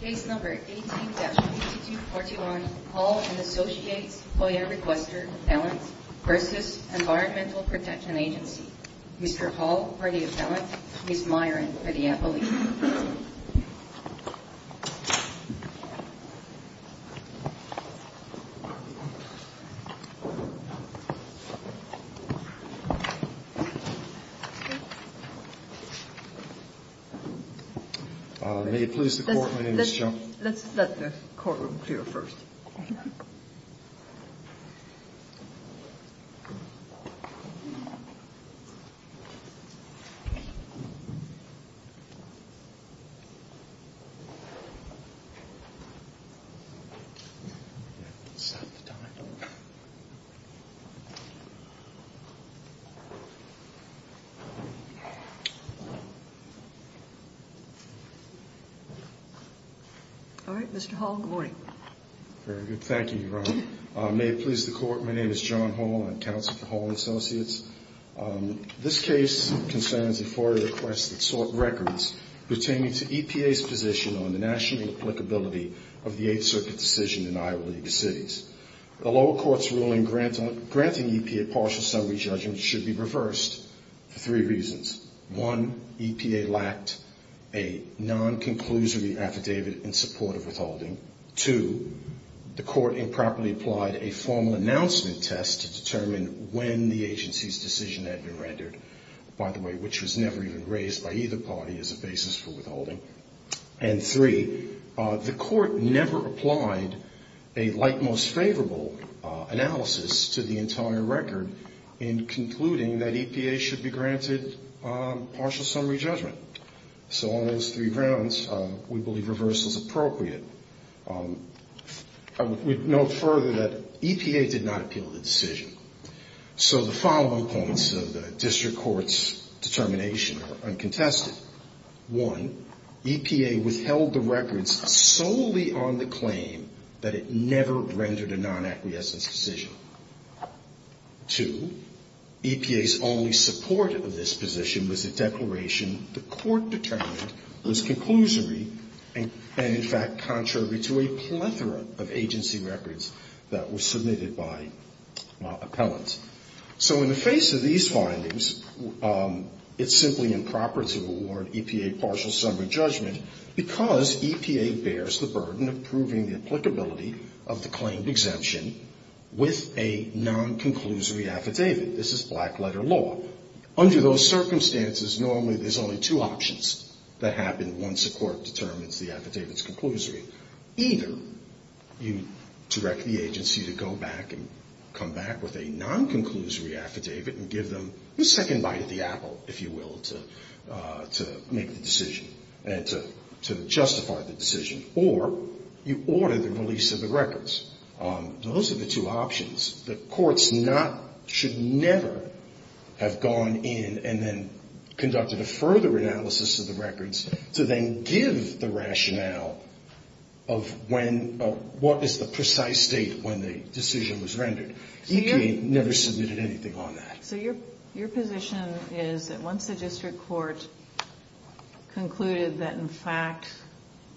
Case No. 18-2241 Hall & Associates FOIA Requester Appellant v. Environmental Protection Agency Mr. Hall for the appellant, Ms. Myron for the appellate Let's let the courtroom clear first. Alright, Mr. Hall, good morning. Very good. Thank you, Your Honor. May it please the Court, my name is John Hall. I'm counsel for Hall & Associates. This case concerns a FOIA request that sought records pertaining to EPA's position on the national applicability of the Eighth Circuit decision in Iowa League of Cities. The lower court's ruling granting EPA partial summary judgments should be reversed for three reasons. One, EPA lacked a non-conclusory affidavit in support of withholding. Two, the court improperly applied a formal announcement test to determine when the agency's decision had been rendered. By the way, which was never even raised by either party as a basis for withholding. And three, the court never applied a like-most-favorable analysis to the entire record in concluding that EPA should be granted partial summary judgment. So on those three grounds, we believe reverse is appropriate. I would note further that EPA did not appeal the decision. So the following points of the district court's determination are uncontested. One, EPA withheld the records solely on the claim that it never rendered a non-acquiescence decision. Two, EPA's only support of this position was a declaration the court determined was conclusory and, in fact, contrary to a plethora of agency records that were submitted by appellants. So in the face of these findings, it's simply improper to award EPA partial summary judgment because EPA bears the burden of proving the applicability of the claimed exemption with a non-conclusory affidavit. This is black-letter law. Under those circumstances, normally there's only two options that happen once a court determines the affidavit's conclusory. Either you direct the agency to go back and come back with a non-conclusory affidavit and give them a second bite at the apple, if you will, to make the decision and to justify the decision. Or you order the release of the records. Those are the two options. The courts should never have gone in and then conducted a further analysis of the records to then give the rationale of what is the precise date when the decision was rendered. EPA never submitted anything on that. So your position is that once the district court concluded that, in fact,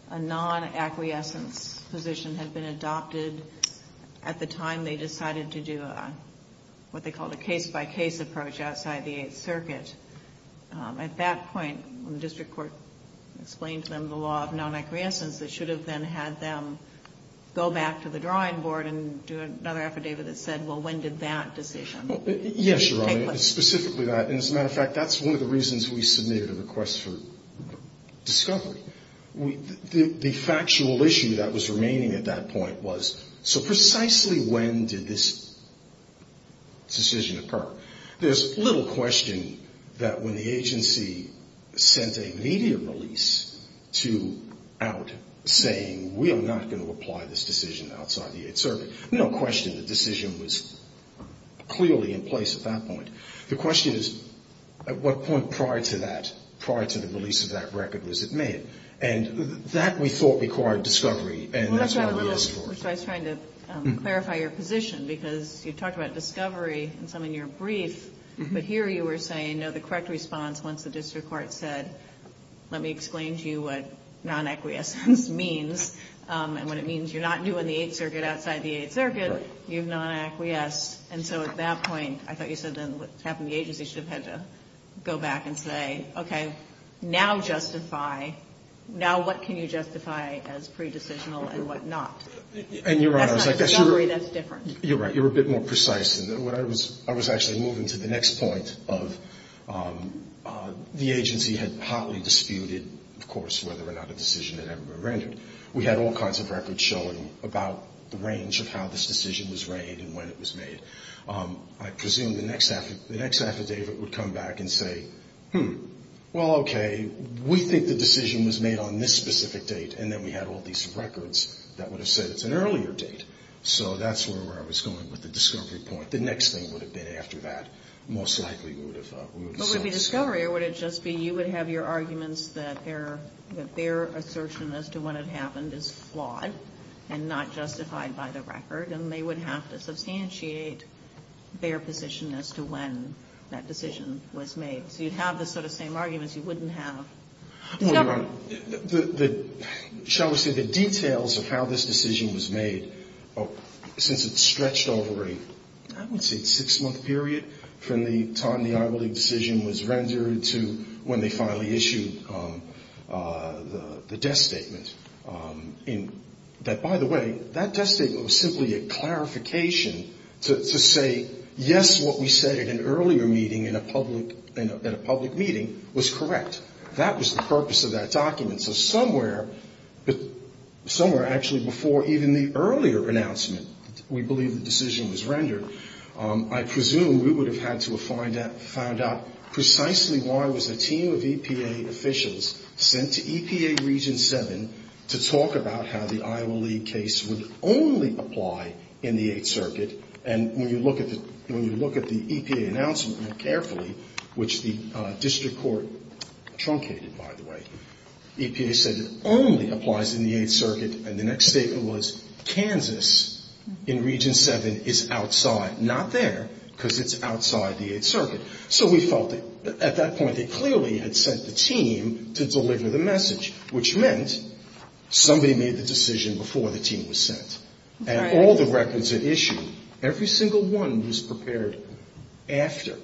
a non-acquiescence position had been adopted at the time they decided to do what they called a case-by-case approach outside the Eighth Circuit, at that point when the district court explained to them the law of non-acquiescence, they should have then had them go back to the drawing board and do another affidavit that said, well, when did that decision? Yes, Your Honor. Specifically that. As a matter of fact, that's one of the reasons we submitted a request for discovery. The factual issue that was remaining at that point was, so precisely when did this decision occur? There's little question that when the agency sent a media release out saying we are not going to apply this decision outside the Eighth Circuit, no question the decision was clearly in place at that point. The question is, at what point prior to that, prior to the release of that record was it made? And that we thought required discovery, and that's what we asked for. I was trying to clarify your position, because you talked about discovery in some of your briefs, but here you were saying, no, the correct response once the district court said, let me explain to you what non-acquiescence means, and what it means you're not doing the Eighth Circuit outside the Eighth Circuit, you've non-acquiesced. And so at that point, I thought you said then what happened, the agency should have had to go back and say, okay, now justify, now what can you justify as pre-decisional and what not? And you're right. That's not discovery. That's different. You're right. I was actually moving to the next point of the agency had hotly disputed, of course, whether or not a decision had ever been rendered. We had all kinds of records showing about the range of how this decision was reigned and when it was made. I presume the next affidavit would come back and say, hmm, well, okay, we think the decision was made on this specific date, and then we had all these records that would have said it's an earlier date. So that's where I was going with the discovery point. The next thing would have been after that. Most likely we would have sought discovery. But would it be discovery, or would it just be you would have your arguments that their assertion as to when it happened is flawed and not justified by the record, and they would have to substantiate their position as to when that decision was made. So you'd have the sort of same arguments you wouldn't have discovery. Well, Your Honor, shall we say the details of how this decision was made, since it stretched over a, I would say, six-month period from the time the Iowa League decision was rendered to when they finally issued the death statement, that, by the way, that death statement was simply a clarification to say, yes, what we said at an earlier meeting in a public meeting was correct. That was the purpose of that document. So somewhere actually before even the earlier announcement we believe the decision was rendered, I presume we would have had to have found out precisely why was a team of EPA officials sent to EPA Region 7 to talk about how the Iowa League case would only apply in the Eighth Circuit. And when you look at the EPA announcement more carefully, which the district court truncated, by the way, EPA said it only applies in the Eighth Circuit, and the next statement was Kansas in Region 7 is outside. Not there, because it's outside the Eighth Circuit. So we felt that at that point they clearly had sent the team to deliver the message, which meant somebody made the decision before the team was sent. Right. And all the records it issued, every single one was prepared after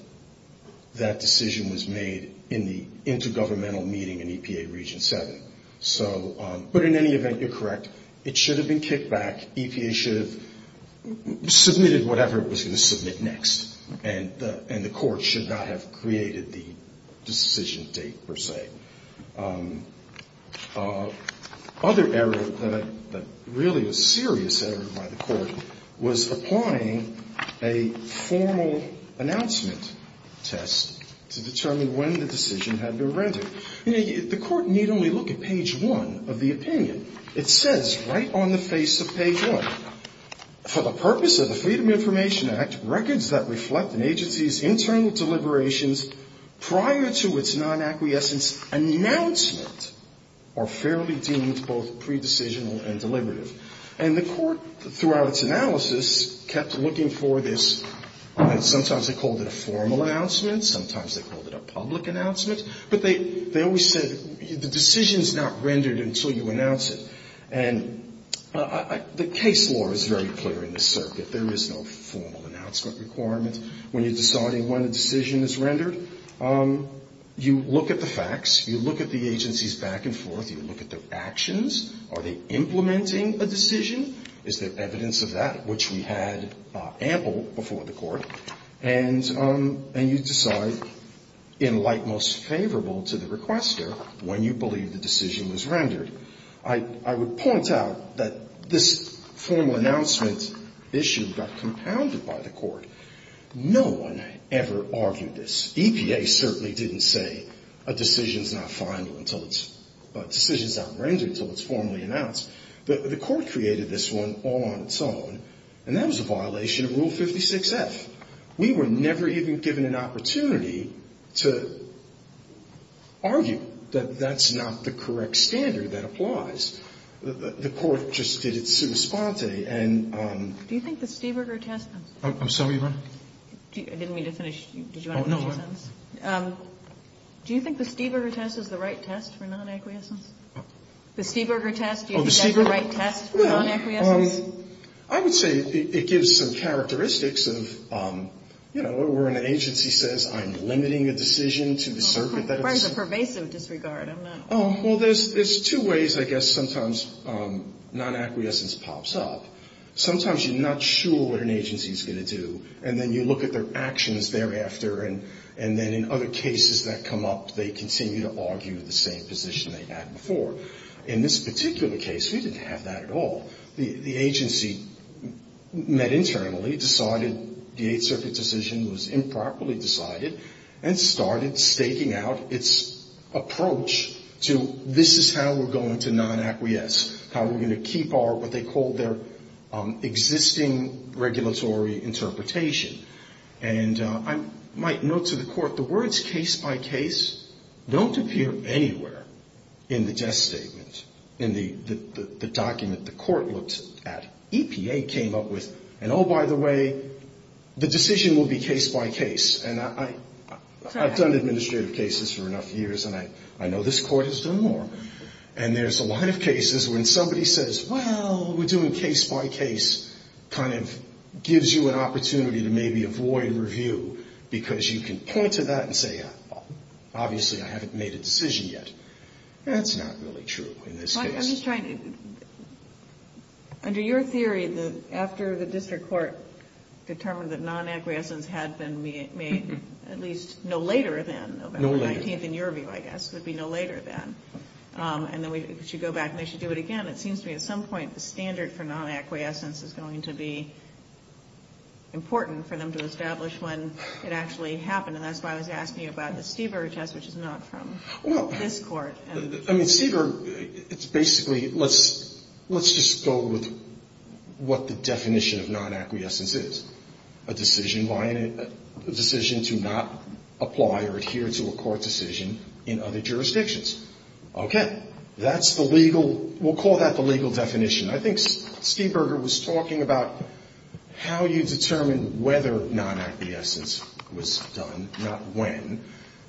that decision was made in the intergovernmental meeting in EPA Region 7. So, but in any event, you're correct. It should have been kicked back. EPA should have submitted whatever it was going to submit next, and the court should not have created the decision date per se. The other error that really was a serious error by the Court was applying a formal announcement test to determine when the decision had been rendered. You know, the Court need only look at page 1 of the opinion. It says right on the face of page 1, for the purpose of the Freedom of Information Act, records that reflect an agency's internal deliberations prior to its non-acquiescence announcement are fairly deemed both pre-decisional and deliberative. And the Court, throughout its analysis, kept looking for this. Sometimes they called it a formal announcement. Sometimes they called it a public announcement. But they always said the decision is not rendered until you announce it. And the case law is very clear in this circuit. There is no formal announcement requirement when you're deciding when a decision is rendered. You look at the facts. You look at the agencies back and forth. You look at their actions. Are they implementing a decision? Is there evidence of that, which we had ample before the Court? And you decide, in light most favorable to the requester, when you believe the decision was rendered. I would point out that this formal announcement issue got compounded by the Court. No one ever argued this. EPA certainly didn't say a decision is not final until it's, a decision is not rendered until it's formally announced. But the Court created this one all on its own. And that was a violation of Rule 56-F. We were never even given an opportunity to argue that that's not the correct standard that applies. The Court just did it sui sponte. Do you think the Stieberger test is the right test for non-acquiescence? The Stieberger test, do you think that's the right test for non-acquiescence? I would say it gives some characteristics of, you know, where an agency says, I'm limiting a decision to the circuit that it's in. That's a pervasive disregard. Well, there's two ways I guess sometimes non-acquiescence pops up. Sometimes you're not sure what an agency is going to do. And then you look at their actions thereafter. And then in other cases that come up, they continue to argue the same position they had before. In this particular case, we didn't have that at all. The agency met internally, decided the Eighth Circuit decision was improperly staking out its approach to this is how we're going to non-acquiesce, how we're going to keep our what they call their existing regulatory interpretation. And I might note to the Court, the words case-by-case don't appear anywhere in the test statement, in the document the Court looked at. EPA came up with, and oh, by the way, the decision will be case-by-case. And I've done administrative cases for enough years, and I know this Court has done more. And there's a lot of cases when somebody says, well, we're doing case-by-case kind of gives you an opportunity to maybe avoid review because you can point to that and say, well, obviously I haven't made a decision yet. That's not really true in this case. I'm just trying to under your theory that after the district court determined that non-acquiescence had been made at least no later than November 19th, in your view, I guess. It would be no later than. And then we should go back and they should do it again. It seems to me at some point the standard for non-acquiescence is going to be important for them to establish when it actually happened. And that's why I was asking you about the Stever test, which is not from this Court. I mean, Stever, it's basically let's just go with what the definition of non-acquiescence is. A decision by a decision to not apply or adhere to a court decision in other jurisdictions. Okay. That's the legal, we'll call that the legal definition. I think Steberger was talking about how you determine whether non-acquiescence was done, not when,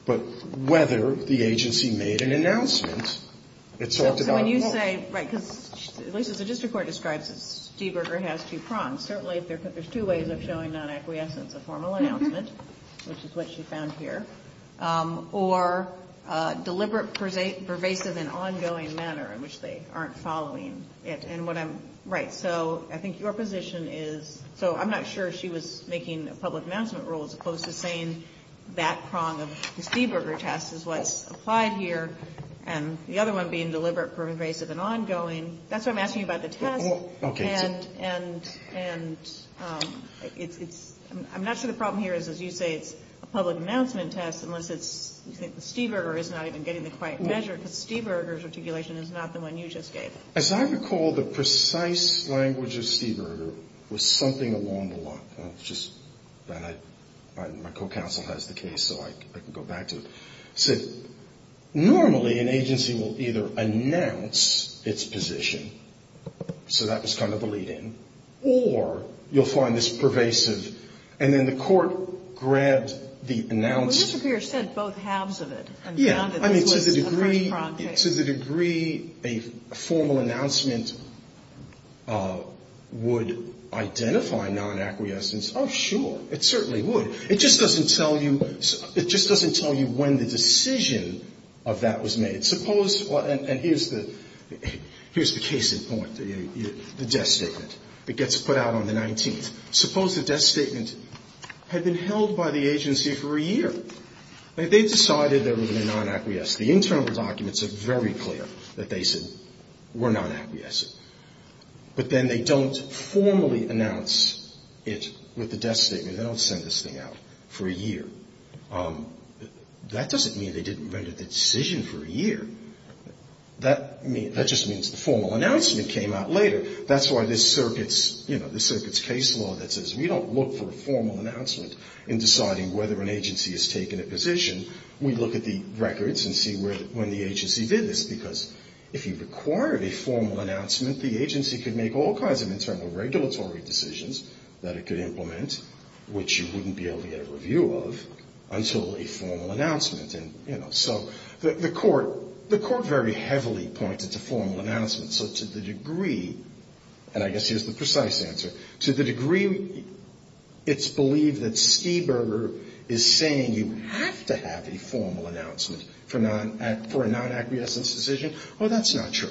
but whether the agency made an announcement. It talked about. So when you say, right, because at least as the district court describes it, Steberger has two prongs. Certainly there's two ways of showing non-acquiescence. A formal announcement, which is what she found here. Or deliberate, pervasive, and ongoing manner in which they aren't following it. And what I'm, right, so I think your position is, so I'm not sure she was making a public announcement rule as opposed to saying that prong of the Steberger test is what's applied here. And the other one being deliberate, pervasive, and ongoing. That's what I'm asking you about the test. Okay. And it's, I'm not sure the problem here is, as you say, it's a public announcement test unless it's, Steberger is not even getting the quiet measure because Steberger's articulation is not the one you just gave. As I recall, the precise language of Steberger was something along the lines, just, my co-counsel has the case so I can go back to it. Normally an agency will either announce its position, so that was kind of the lead-in, or you'll find this pervasive and then the court grabs the announced. Well, Mr. Pierce said both halves of it. Yeah. I mean, to the degree, to the degree a formal announcement would identify non-acquiescence, oh, sure, it certainly would. It just doesn't tell you, it just doesn't tell you when the decision of that was made. Suppose, and here's the, here's the case in point, the death statement that gets put out on the 19th. Suppose the death statement had been held by the agency for a year. They decided they were going to be non-acquiescent. The internal documents are very clear that they said we're non-acquiescent. But then they don't formally announce it with the death statement. They don't send this thing out for a year. That doesn't mean they didn't render the decision for a year. That just means the formal announcement came out later. That's why this circuit's, you know, this circuit's case law that says we don't look for a formal announcement in deciding whether an agency has taken a position. We look at the records and see when the agency did this because if you required a formal announcement, the agency could make all kinds of internal regulatory decisions that it could implement, which you wouldn't be able to get a review of until a formal announcement. And, you know, so the court, the court very heavily pointed to formal announcements. So to the degree, and I guess here's the precise answer, to the degree it's believed that Stieberger is saying you have to have a formal announcement for a non-acquiescent decision, well, that's not true.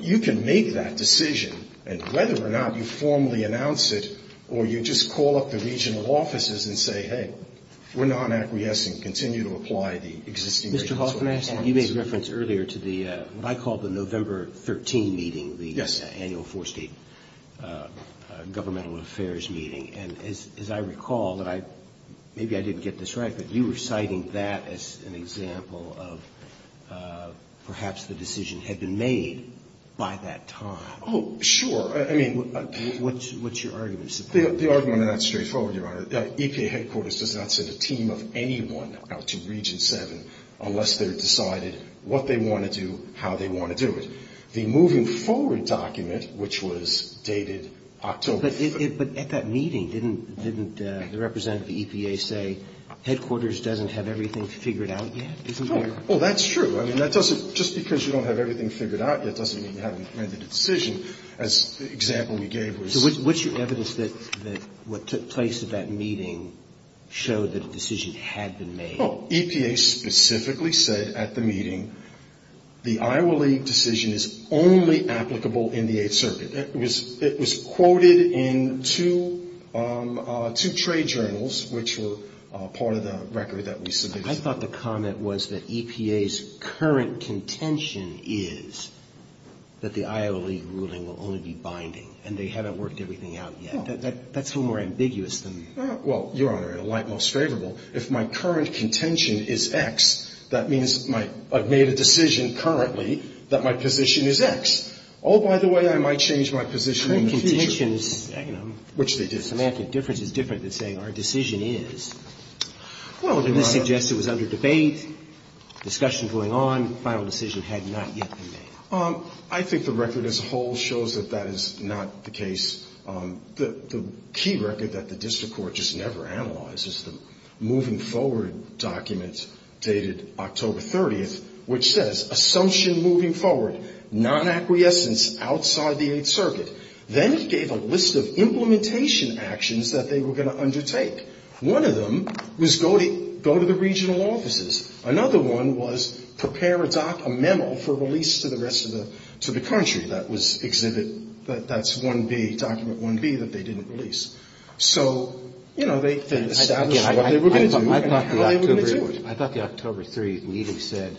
You can make that decision, and whether or not you formally announce it or you just call up the regional offices and say, hey, we're non-acquiescent, continue to apply the existing regulations. Roberts. Mr. Hoffman, you made reference earlier to the, what I call the November 13 meeting. Yes. The annual four-State governmental affairs meeting. And as I recall, and maybe I didn't get this right, but you were citing that as an annual meeting. And you said that the decision had been made by that time. Oh, sure. I mean. What's your argument? The argument on that is straightforward, Your Honor. EPA headquarters does not send a team of anyone out to Region 7 unless they're decided what they want to do, how they want to do it. The moving forward document, which was dated October. But at that meeting, didn't the representative of the EPA say headquarters doesn't have everything figured out yet? Oh, that's true. I mean, that doesn't, just because you don't have everything figured out yet doesn't mean you haven't made the decision. As the example we gave was. So what's your evidence that what took place at that meeting showed that a decision had been made? EPA specifically said at the meeting the Iowa League decision is only applicable in the Eighth Circuit. It was quoted in two trade journals, which were part of the record that we submitted. I thought the comment was that EPA's current contention is that the Iowa League ruling will only be binding, and they haven't worked everything out yet. That's a little more ambiguous than. Well, Your Honor, in a light most favorable, if my current contention is X, that means I've made a decision currently that my position is X. Oh, by the way, I might change my position in the future. Contention is, you know. Which they did. The semantic difference is different than saying our decision is. Well, Your Honor. And this suggests it was under debate, discussion going on, final decision had not yet been made. I think the record as a whole shows that that is not the case. The key record that the district court just never analyzes, the moving forward document dated October 30th, which says assumption moving forward, non-acquiescence outside the Eighth Circuit. Then it gave a list of implementation actions that they were going to undertake. One of them was go to the regional offices. Another one was prepare a memo for release to the rest of the country. That was exhibit, that's 1B, document 1B that they didn't release. So, you know, they established what they were going to do and how they were going to do it. I thought the October 30th meeting said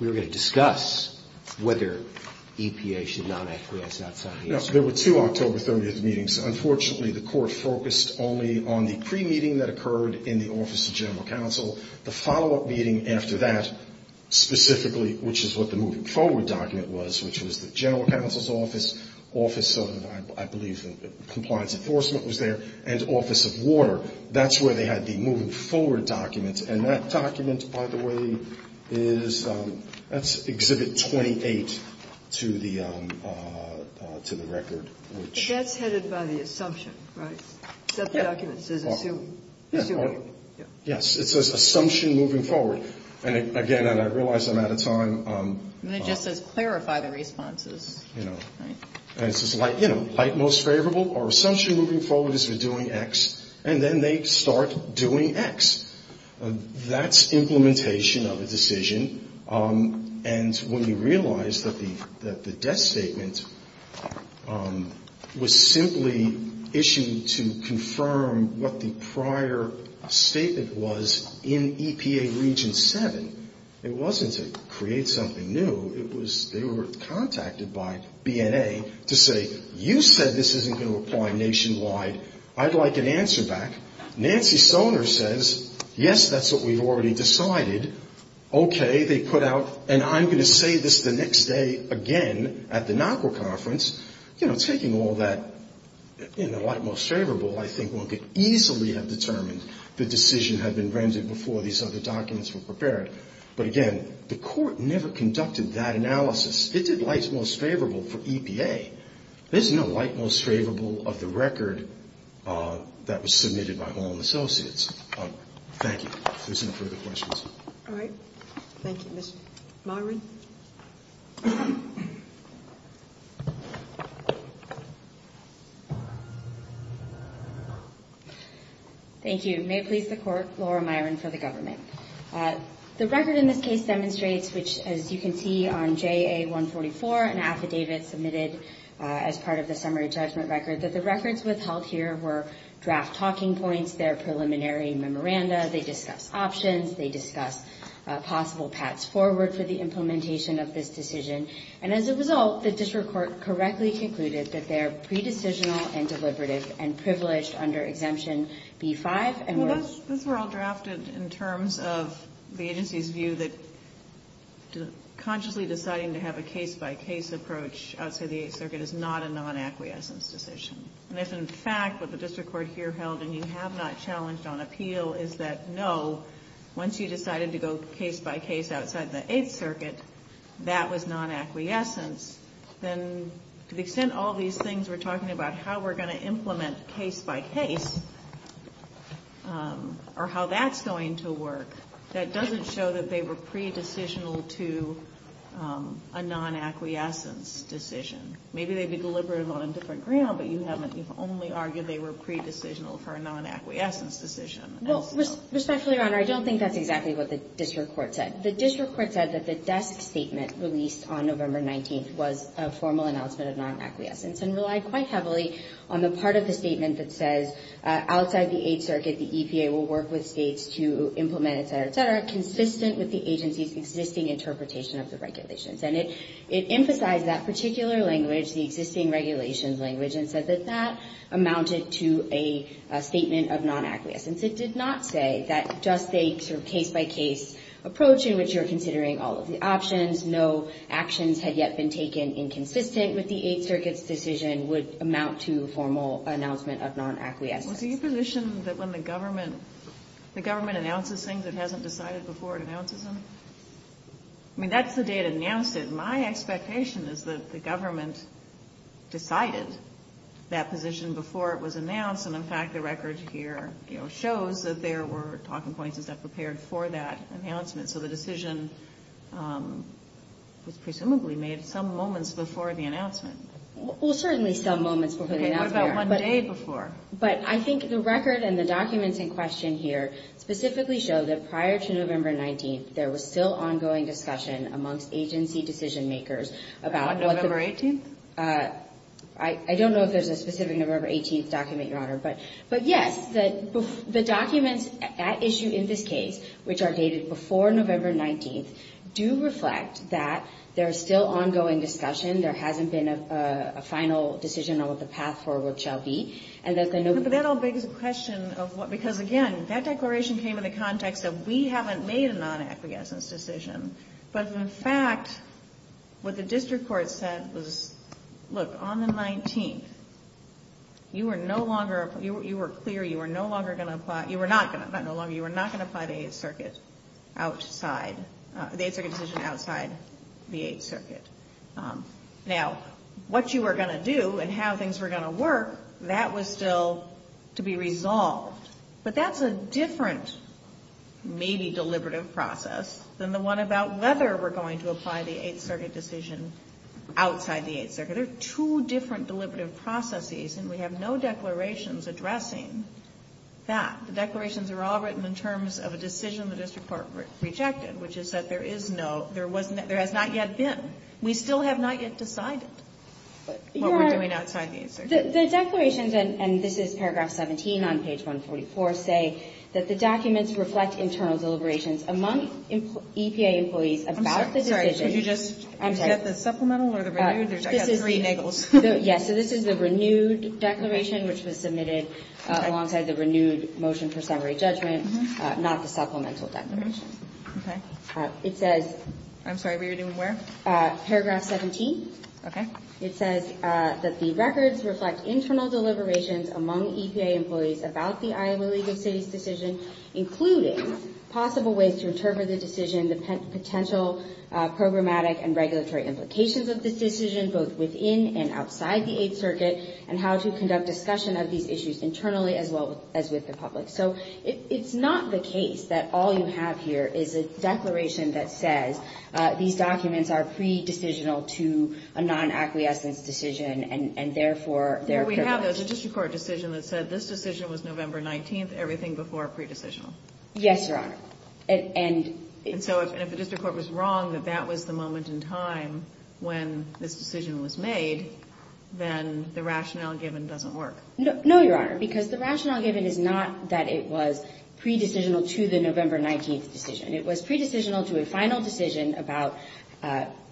we were going to discuss whether EPA should non-acquiescence outside the Eighth Circuit. No. There were two October 30th meetings. Unfortunately, the court focused only on the pre-meeting that occurred in the Office of General Counsel. The follow-up meeting after that specifically, which is what the moving forward document was, which was the General Counsel's Office, Office of, I believe, Compliance Enforcement was there, and Office of Water, that's where they had the moving forward document. And that document, by the way, is, that's exhibit 28 to the record. But that's headed by the assumption, right? That the document says assume. Yes. It says assumption moving forward. And, again, and I realize I'm out of time. And it just says clarify the responses. You know. And it says, you know, like most favorable, our assumption moving forward is we're doing X. And then they start doing X. That's implementation of a decision. And when you realize that the death statement was simply issued to confirm what the prior statement was in EPA Region 7, it wasn't to create something new. It was, they were contacted by BNA to say, you said this isn't going to apply nationwide. I'd like an answer back. Nancy Stoner says, yes, that's what we've already decided. Okay. They put out, and I'm going to say this the next day again at the NAWQA conference. You know, taking all that, you know, like most favorable, I think one could easily have determined the decision had been rendered before these other documents were prepared. But, again, the court never conducted that analysis. It did like most favorable for EPA. There's no like most favorable of the record that was submitted by Hall and Associates. Thank you. If there's no further questions. All right. Thank you. Ms. Myron. Thank you. May it please the Court, Laura Myron for the government. The record in this case demonstrates, which, as you can see on JA-144, an affidavit submitted as part of the summary judgment record, that the records withheld here were draft talking points, their preliminary memoranda, they discuss options, they discuss possible paths forward for the implementation of this decision. And as a result, the district court correctly concluded that they're pre-decisional and deliberative and privileged under Exemption B-5 and were Well, those were all drafted in terms of the agency's view that consciously deciding to have a case-by-case approach outside the Eighth Circuit is not a non-acquiescence decision. And if, in fact, what the district court here held, and you have not challenged on appeal, is that, no, once you decided to go case-by-case outside the Eighth Circuit, that was non-acquiescence, then to the extent all these things we're talking about how we're going to implement case-by-case or how that's going to work, that doesn't show that they were pre-decisional to a non-acquiescence decision. Maybe they'd be deliberative on a different ground, but you haven't. You've only argued they were pre-decisional for a non-acquiescence decision. Respectfully, Your Honor, I don't think that's exactly what the district court said. The district court said that the desk statement released on November 19th was a formal announcement of non-acquiescence and relied quite heavily on the part of the statement that says, outside the Eighth Circuit, the EPA will work with States to implement et cetera, et cetera, consistent with the agency's existing interpretation of the regulations. And it emphasized that particular language, the existing regulations language, and said that that amounted to a statement of non-acquiescence. It did not say that just a sort of case-by-case approach in which you're considering all of the options, no actions had yet been taken inconsistent with the Eighth Circuit's decision would amount to formal announcement of non-acquiescence. Kagan. Well, do you position that when the government, the government announces things it hasn't decided before it announces them? I mean, that's the day it announced it. My expectation is that the government decided that position before it was announced and, in fact, the record here, you know, shows that there were talking points and stuff prepared for that announcement. So the decision was presumably made some moments before the announcement. Well, certainly some moments before the announcement. Okay, what about one day before? But I think the record and the documents in question here specifically show that prior to November 19th, there was still ongoing discussion amongst agency decision-makers about what the... On November 18th? I don't know if there's a specific November 18th document, Your Honor. But, yes, the documents at issue in this case, which are dated before November 19th, do reflect that there is still ongoing discussion. There hasn't been a final decision on what the path forward shall be. But that all begs the question of what, because, again, that declaration came in the morning, we haven't made a non-acquiescence decision. But, in fact, what the district court said was, look, on the 19th, you were no longer... You were clear you were no longer going to apply... Not no longer, you were not going to apply the Eighth Circuit outside... The Eighth Circuit decision outside the Eighth Circuit. Now, what you were going to do and how things were going to work, that was still to be resolved. But that's a different, maybe, deliberative process than the one about whether we're going to apply the Eighth Circuit decision outside the Eighth Circuit. There are two different deliberative processes, and we have no declarations addressing that. The declarations are all written in terms of a decision the district court rejected, which is that there is no... There has not yet been. We still have not yet decided what we're doing outside the Eighth Circuit. The declarations, and this is paragraph 17 on page 144, say that the documents reflect internal deliberations among EPA employees about the decision... I'm sorry. Could you just... I'm sorry. Is that the supplemental or the renewed? I got three niggles. Yes. So this is the renewed declaration, which was submitted alongside the renewed motion for summary judgment, not the supplemental declaration. Okay. It says... I'm sorry. We were doing where? Paragraph 17. Okay. It says that the records reflect internal deliberations among EPA employees about the Iowa League of Cities decision, including possible ways to interpret the decision, the potential programmatic and regulatory implications of this decision, both within and outside the Eighth Circuit, and how to conduct discussion of these issues internally as well as with the public. So it's not the case that all you have here is a declaration that says these decisions have to be made under the acquiescence decision, and therefore... Yeah, but we have a district court decision that said this decision was November 19th, everything before pre-decisional. Yes, Your Honor. And so if the district court was wrong that that was the moment in time when this decision was made, then the rationale given doesn't work. No, Your Honor, because the rationale given is not that it was pre-decisional to the November 19th decision. It was pre-decisional to a final decision about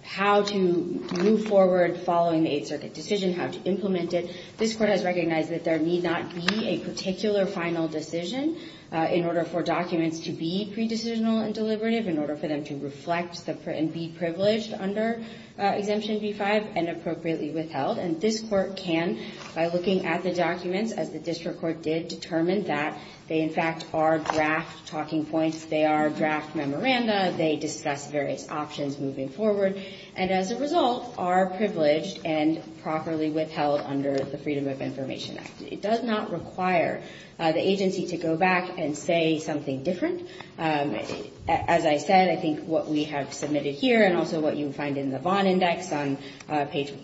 how to move forward following the Eighth Circuit decision, how to implement it. This Court has recognized that there need not be a particular final decision in order for documents to be pre-decisional and deliberative, in order for them to reflect and be privileged under Exemption B-5 and appropriately withheld. And this Court can, by looking at the documents, as the district court did, determine that they, in fact, are draft talking points. They are draft memoranda. They discuss various options moving forward and, as a result, are privileged and properly withheld under the Freedom of Information Act. It does not require the agency to go back and say something different. As I said, I think what we have submitted here and also what you find in the Vaughan Index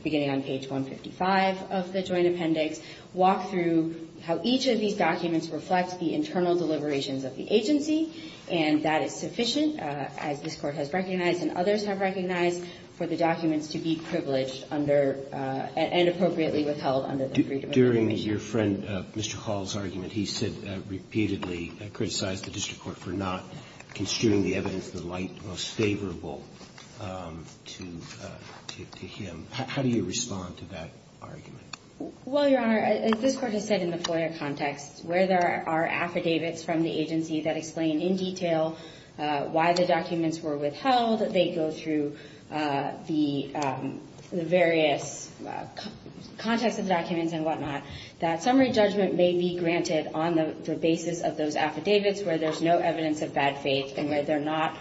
beginning on page 155 of the Joint Appendix walk through how each of these documents reflect the internal deliberations of the agency. And that is sufficient, as this Court has recognized and others have recognized, for the documents to be privileged under and appropriately withheld under the Freedom of Information Act. Roberts. During your friend Mr. Hall's argument, he said repeatedly, criticized the district court for not construing the evidence in the light most favorable to him. How do you respond to that argument? Well, Your Honor, as this Court has said in the FOIA context, where there are affidavits from the agency that explain in detail why the documents were withheld, they go through the various context of the documents and whatnot, that summary judgment may be granted on the basis of those affidavits where there's no evidence of bad faith and where they're not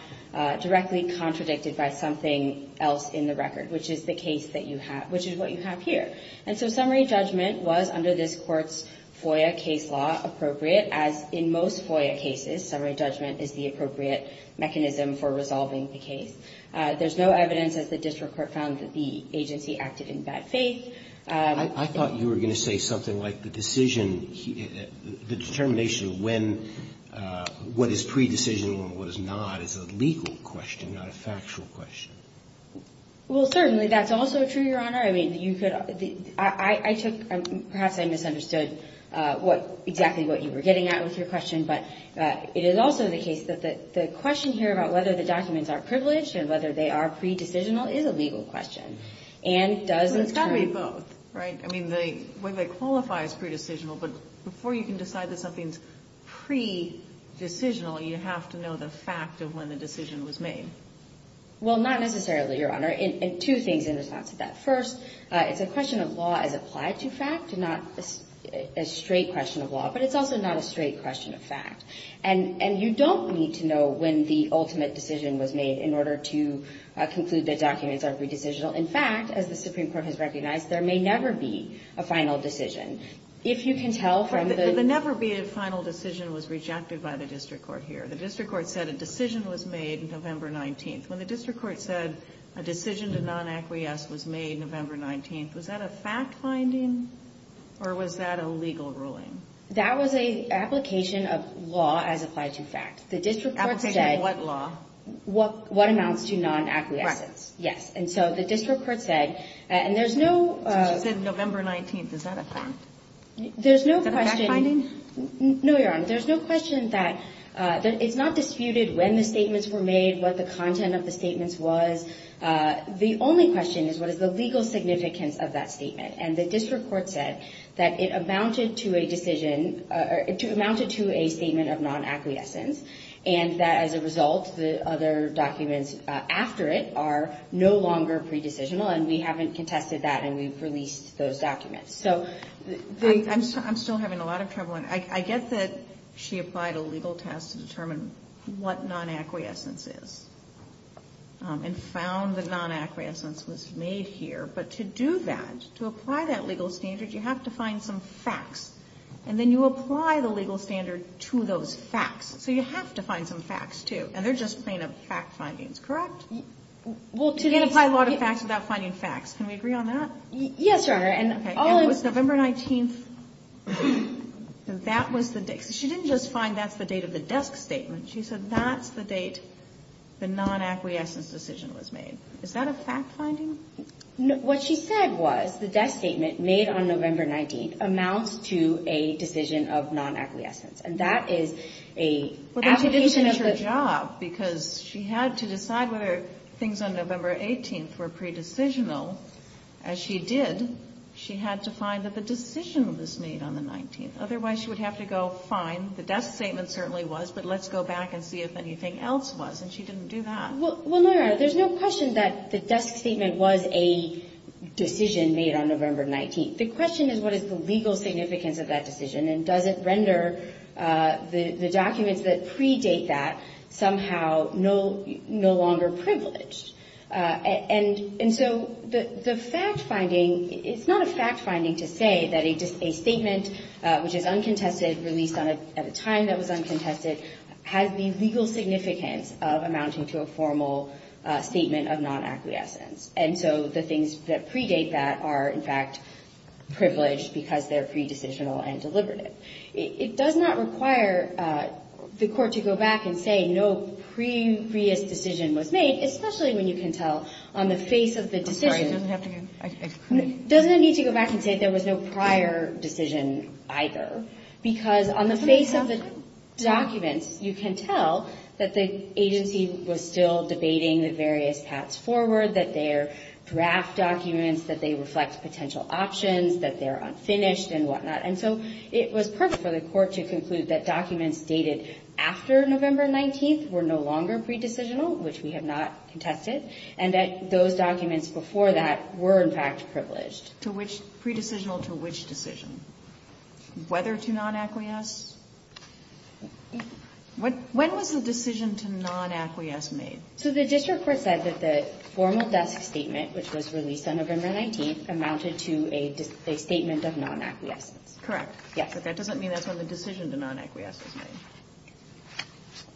directly contradicted by something else in the record, which is the case that you have, which is what you have here. And so summary judgment was, under this Court's FOIA case law, appropriate, as in most FOIA cases, summary judgment is the appropriate mechanism for resolving the case. There's no evidence, as the district court found, that the agency acted in bad faith. I thought you were going to say something like the decision, the determination of when, what is pre-decision and what is not, is a legal question, not a factual question. Well, certainly that's also true, Your Honor. I mean, you could – I took – perhaps I misunderstood what – exactly what you were getting at with your question, but it is also the case that the question here about whether the documents are privileged and whether they are pre-decisional is a legal question. And does the – Well, it's got to be both, right? I mean, when they qualify as pre-decisional, but before you can decide that something's pre-decisional, you have to know the fact of when the decision was made. Well, not necessarily, Your Honor. And two things in response to that. First, it's a question of law as applied to fact, not a straight question of law. But it's also not a straight question of fact. And you don't need to know when the ultimate decision was made in order to conclude that documents are pre-decisional. In fact, as the Supreme Court has recognized, there may never be a final decision. If you can tell from the – The never be a final decision was rejected by the district court here. The district court said a decision was made November 19th. When the district court said a decision to non-acquiesce was made November 19th, was that a fact-finding or was that a legal ruling? That was an application of law as applied to fact. The district court said – Application of what law? What amounts to non-acquiescence. Right. Yes. And so the district court said – So she said November 19th. Is that a fact? There's no question – Is that a fact-finding? No, Your Honor. There's no question that – I don't know what the content of the statements was. The only question is what is the legal significance of that statement? And the district court said that it amounted to a decision – it amounted to a statement of non-acquiescence, and that as a result the other documents after it are no longer pre-decisional, and we haven't contested that and we've released those documents. So – I'm still having a lot of trouble. I get that she applied a legal test to determine what non-acquiescence is, and found that non-acquiescence was made here. But to do that, to apply that legal standard, you have to find some facts. And then you apply the legal standard to those facts. So you have to find some facts, too. And they're just plain-up fact findings, correct? Well, to – You can't apply law to facts without finding facts. Can we agree on that? Yes, Your Honor. And all of – So that was the – She didn't just find that's the date of the desk statement. She said that's the date the non-acquiescence decision was made. Is that a fact finding? No. What she said was the desk statement made on November 19th amounts to a decision of non-acquiescence. And that is a – Well, then she didn't do her job because she had to decide whether things on November 18th were pre-decisional. As she did, she had to find that the decision was made on the 19th. Otherwise, she would have to go, fine, the desk statement certainly was, but let's go back and see if anything else was. And she didn't do that. Well, Your Honor, there's no question that the desk statement was a decision made on November 19th. The question is what is the legal significance of that decision, and does it render the documents that predate that somehow no longer privileged? And so the fact finding – it's not a fact finding to say that a statement, which is uncontested, released at a time that was uncontested, has the legal significance of amounting to a formal statement of non-acquiescence. And so the things that predate that are, in fact, privileged because they're pre-decisional and deliberative. It does not require the Court to go back and say no previous decision was made, especially when you can tell on the face of the decision – I'm sorry. It doesn't have to get – Doesn't it need to go back and say there was no prior decision either? Because on the face of the documents, you can tell that the agency was still debating the various paths forward, that their draft documents, that they reflect potential options, that they're unfinished and whatnot. And so it was perfect for the Court to conclude that documents dated after November 19th were no longer pre-decisional, which we have not contested, and that those were privileged. To which – pre-decisional to which decision? Whether to non-acquiesce? When was the decision to non-acquiesce made? So the district court said that the formal desk statement, which was released on November 19th, amounted to a statement of non-acquiescence. Correct. Yes. But that doesn't mean that's when the decision to non-acquiesce was made.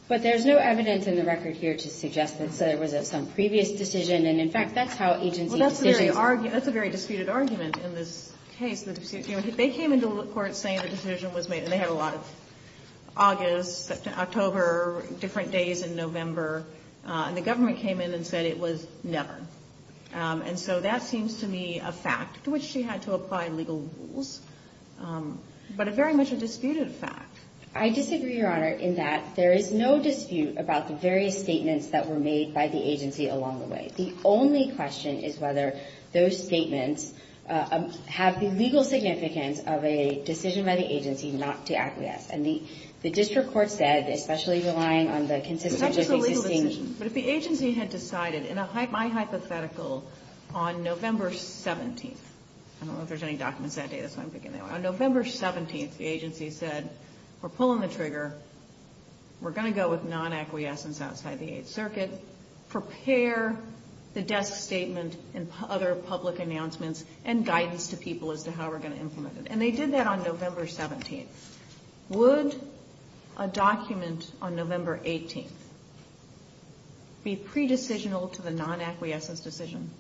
But there's no evidence in the record here to suggest that there was some previous decision. And, in fact, that's how agency decisions – Well, that's a very – that's a very disputed argument in this case. They came into court saying the decision was made, and they had a lot of August, September, October, different days in November. And the government came in and said it was never. And so that seems to me a fact to which she had to apply legal rules, but very much a disputed fact. I disagree, Your Honor, in that there is no dispute about the various statements that were made by the agency along the way. The only question is whether those statements have the legal significance of a decision by the agency not to acquiesce. And the district court said, especially relying on the consistent – It's not just a legal decision. But if the agency had decided in a hypothetical on November 17th – I don't know if there's any documents that day. That's why I'm picking that one. On November 17th, the agency said, we're pulling the trigger. We're going to go with non-acquiescence outside the Eighth Circuit. Prepare the desk statement and other public announcements and guidance to people as to how we're going to implement it. And they did that on November 17th. Would a document on November 18th be pre-decisional to the non-acquiescence decision?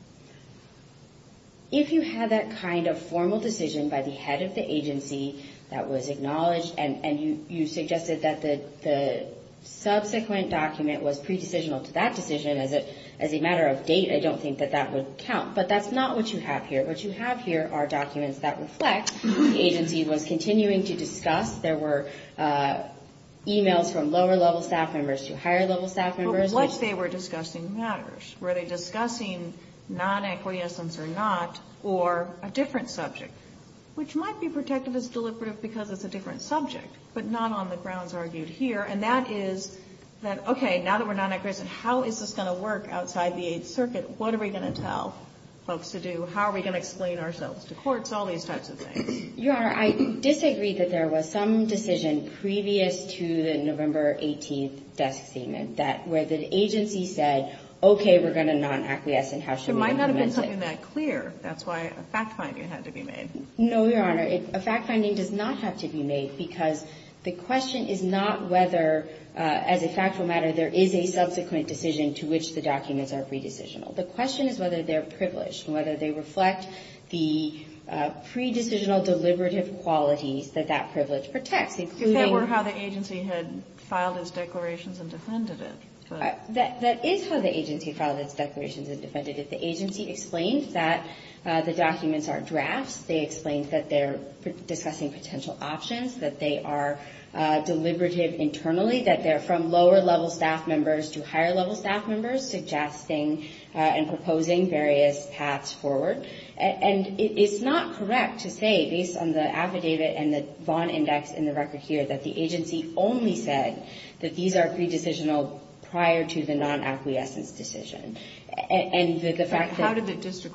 If you had that kind of formal decision by the head of the agency that was acknowledged and you suggested that the subsequent document was pre-decisional to that decision as a matter of date, I don't think that that would count. But that's not what you have here. What you have here are documents that reflect the agency was continuing to discuss. There were e-mails from lower-level staff members to higher-level staff members. But what they were discussing matters. Were they discussing non-acquiescence or not, or a different subject, which might be protected as deliberative because it's a different subject, but not on the grounds argued here. And that is that, okay, now that we're non-acquiescent, how is this going to work outside the Eighth Circuit? What are we going to tell folks to do? How are we going to explain ourselves to courts? All these types of things. Your Honor, I disagree that there was some decision previous to the November 18th desk statement that where the agency said, okay, we're going to non-acquiesce and how should we implement it. It might not have been something that clear. That's why a fact finding had to be made. No, Your Honor. A fact finding does not have to be made because the question is not whether, as a factual matter, there is a subsequent decision to which the documents are pre-decisional. The question is whether they're privileged and whether they reflect the pre-decisional deliberative qualities that that privilege protects, including the fact that the agency had filed its declarations and defended it. That is how the agency filed its declarations and defended it. The agency explained that the documents are drafts. They explained that they're discussing potential options, that they are deliberative internally, that they're from lower-level staff members to higher-level staff members, suggesting and proposing various paths forward. And it's not correct to say, based on the affidavit and the Vaughn index in the record here, that the agency only said that these are pre-decisional prior to the non-acquiescence decision. And the fact that the district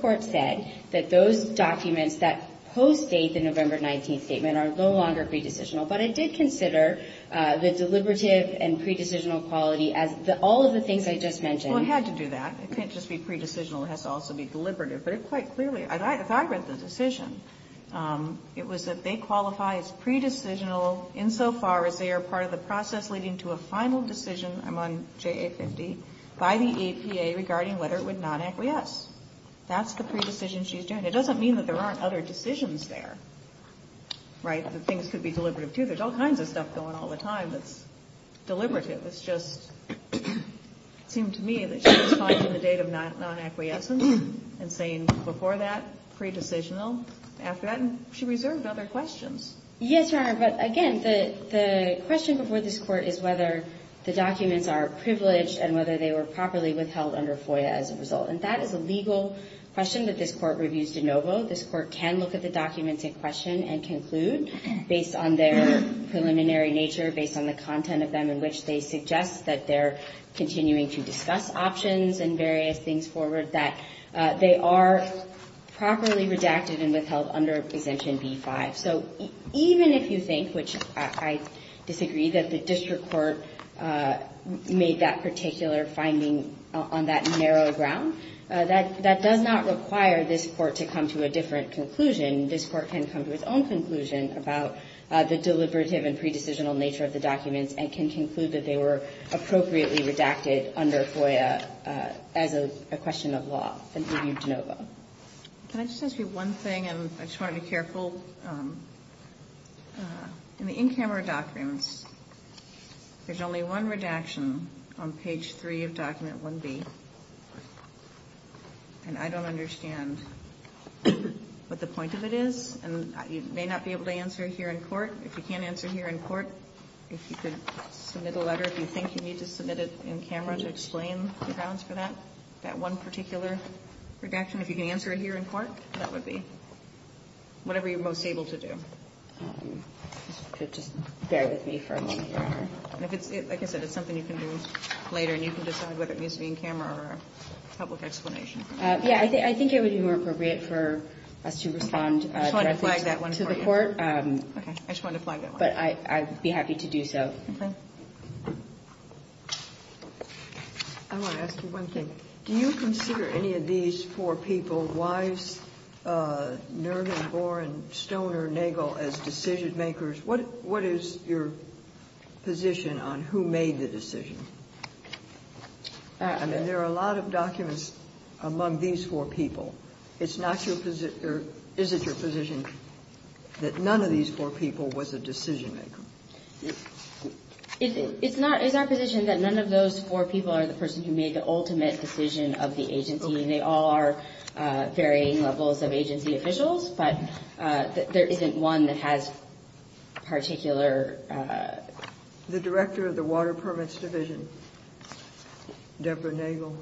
court said, that those documents that postdate the November 19th statement are no longer pre-decisional, but it did consider the deliberative and pre-decisional quality as all of the things I just mentioned. Well, it had to do that. It can't just be pre-decisional. It has to also be deliberative. But it quite clearly, if I read the decision, it was that they qualify as pre-decisional insofar as they are part of the process leading to a final decision, I'm on JA 50, by the APA regarding whether it would non-acquiesce. That's the pre-decision she's doing. It doesn't mean that there aren't other decisions there, right? That things could be deliberative, too. There's all kinds of stuff going on all the time that's deliberative. It's just, it seemed to me that she was finding the date of non-acquiescence and saying, before that, pre-decisional. After that, she reserved other questions. Yes, Your Honor. But again, the question before this Court is whether the documents are privileged and whether they were properly withheld under FOIA as a result. And that is a legal question that this Court reviews de novo. This Court can look at the documents in question and conclude, based on their preliminary nature, based on the content of them in which they suggest that they're continuing to discuss options and various things forward, that they are properly redacted and withheld under Exemption B-5. So even if you think, which I disagree, that the district court made that particular finding on that narrow ground, that does not require this Court to come to a different conclusion. This Court can come to its own conclusion about the deliberative and pre-decisional nature of the documents and can conclude that they were appropriately redacted under FOIA as a question of law and reviewed de novo. Can I just ask you one thing? And I just want to be careful. In the in-camera documents, there's only one redaction on page 3 of document 1B. And I don't understand what the point of it is. And you may not be able to answer it here in court. If you can't answer it here in court, if you could submit a letter, if you think you need to submit it in camera to explain the grounds for that, that one particular redaction, if you can answer it here in court, that would be. Whatever you're most able to do. Just bear with me for a moment. Like I said, it's something you can do later, and you can decide whether it needs to be in camera or a public explanation. Yeah, I think it would be more appropriate for us to respond directly to the Court. I just wanted to flag that one for you. Okay. I just wanted to flag that one. But I'd be happy to do so. Okay. I want to ask you one thing. Do you consider any of these four people, Weiss, Nervin, Boren, Stone or Nagel as decision-makers? What is your position on who made the decision? I mean, there are a lot of documents among these four people. It's not your position or is it your position that none of these four people was a decision-maker? It's not. It's our position that none of those four people are the person who made the ultimate decision of the agency. They all are varying levels of agency officials, but there isn't one that has particular The director of the Water Permits Division, Deborah Nagel,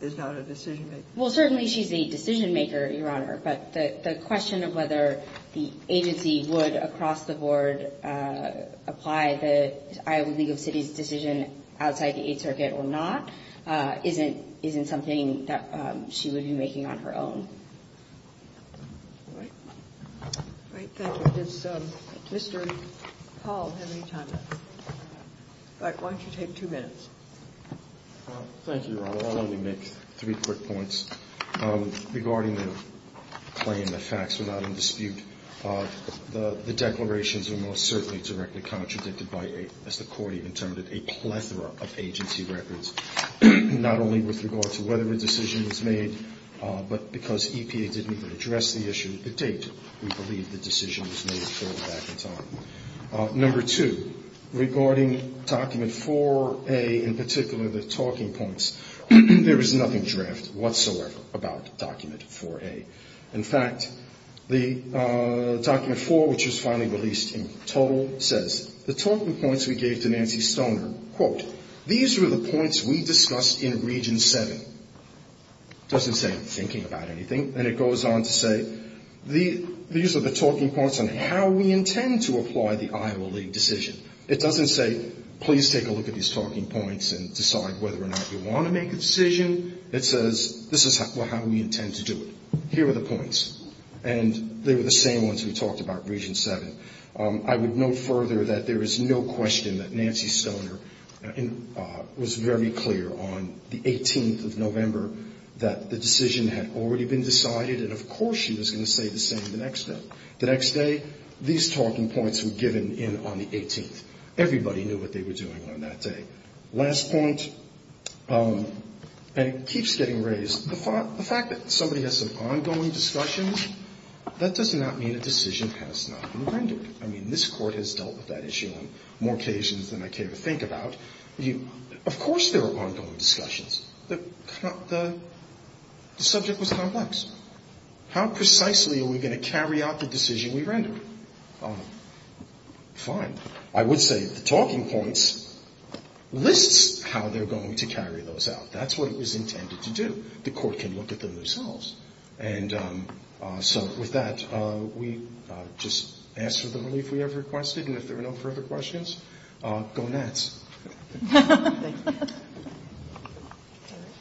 is not a decision-maker. Well, certainly she's a decision-maker, Your Honor, but the question of whether the agency would, across the board, apply the Iowa League of Cities decision outside the Eighth Circuit or not isn't something that she would be making on her own. All right. All right. Thank you. Does Mr. Paul have any time left? All right. Why don't you take two minutes? Thank you, Your Honor. I'll only make three quick points. Regarding the claim that facts were not in dispute, the declarations are most certainly directly contradicted by, as the Court even termed it, a plethora of agency records, not only with regard to whether a decision was made, but because EPA didn't even address the issue to date, we believe the decision was made fairly back in time. Number two, regarding document 4A, in particular, the talking points, there is nothing in the draft whatsoever about document 4A. In fact, the document 4, which was finally released in total, says, the talking points we gave to Nancy Stoner, quote, these were the points we discussed in Region 7. It doesn't say thinking about anything, and it goes on to say, these are the talking points on how we intend to apply the Iowa League decision. It doesn't say, please take a look at these talking points and decide whether or not you intend to do it. Here are the points, and they were the same ones we talked about in Region 7. I would note further that there is no question that Nancy Stoner was very clear on the 18th of November that the decision had already been decided, and of course she was going to say the same the next day. The next day, these talking points were given in on the 18th. Everybody knew what they were doing on that day. Last point, and it keeps getting raised, the fact that somebody has some ongoing discussions, that does not mean a decision has not been rendered. I mean, this Court has dealt with that issue on more occasions than I care to think about. Of course there were ongoing discussions. The subject was complex. How precisely are we going to carry out the decision we rendered? Fine. I would say the talking points lists how they're going to carry those out. That's what it was intended to do. The Court can look at them themselves. And so with that, we just ask for the relief we have requested, and if there are no further Thank you. Thank you.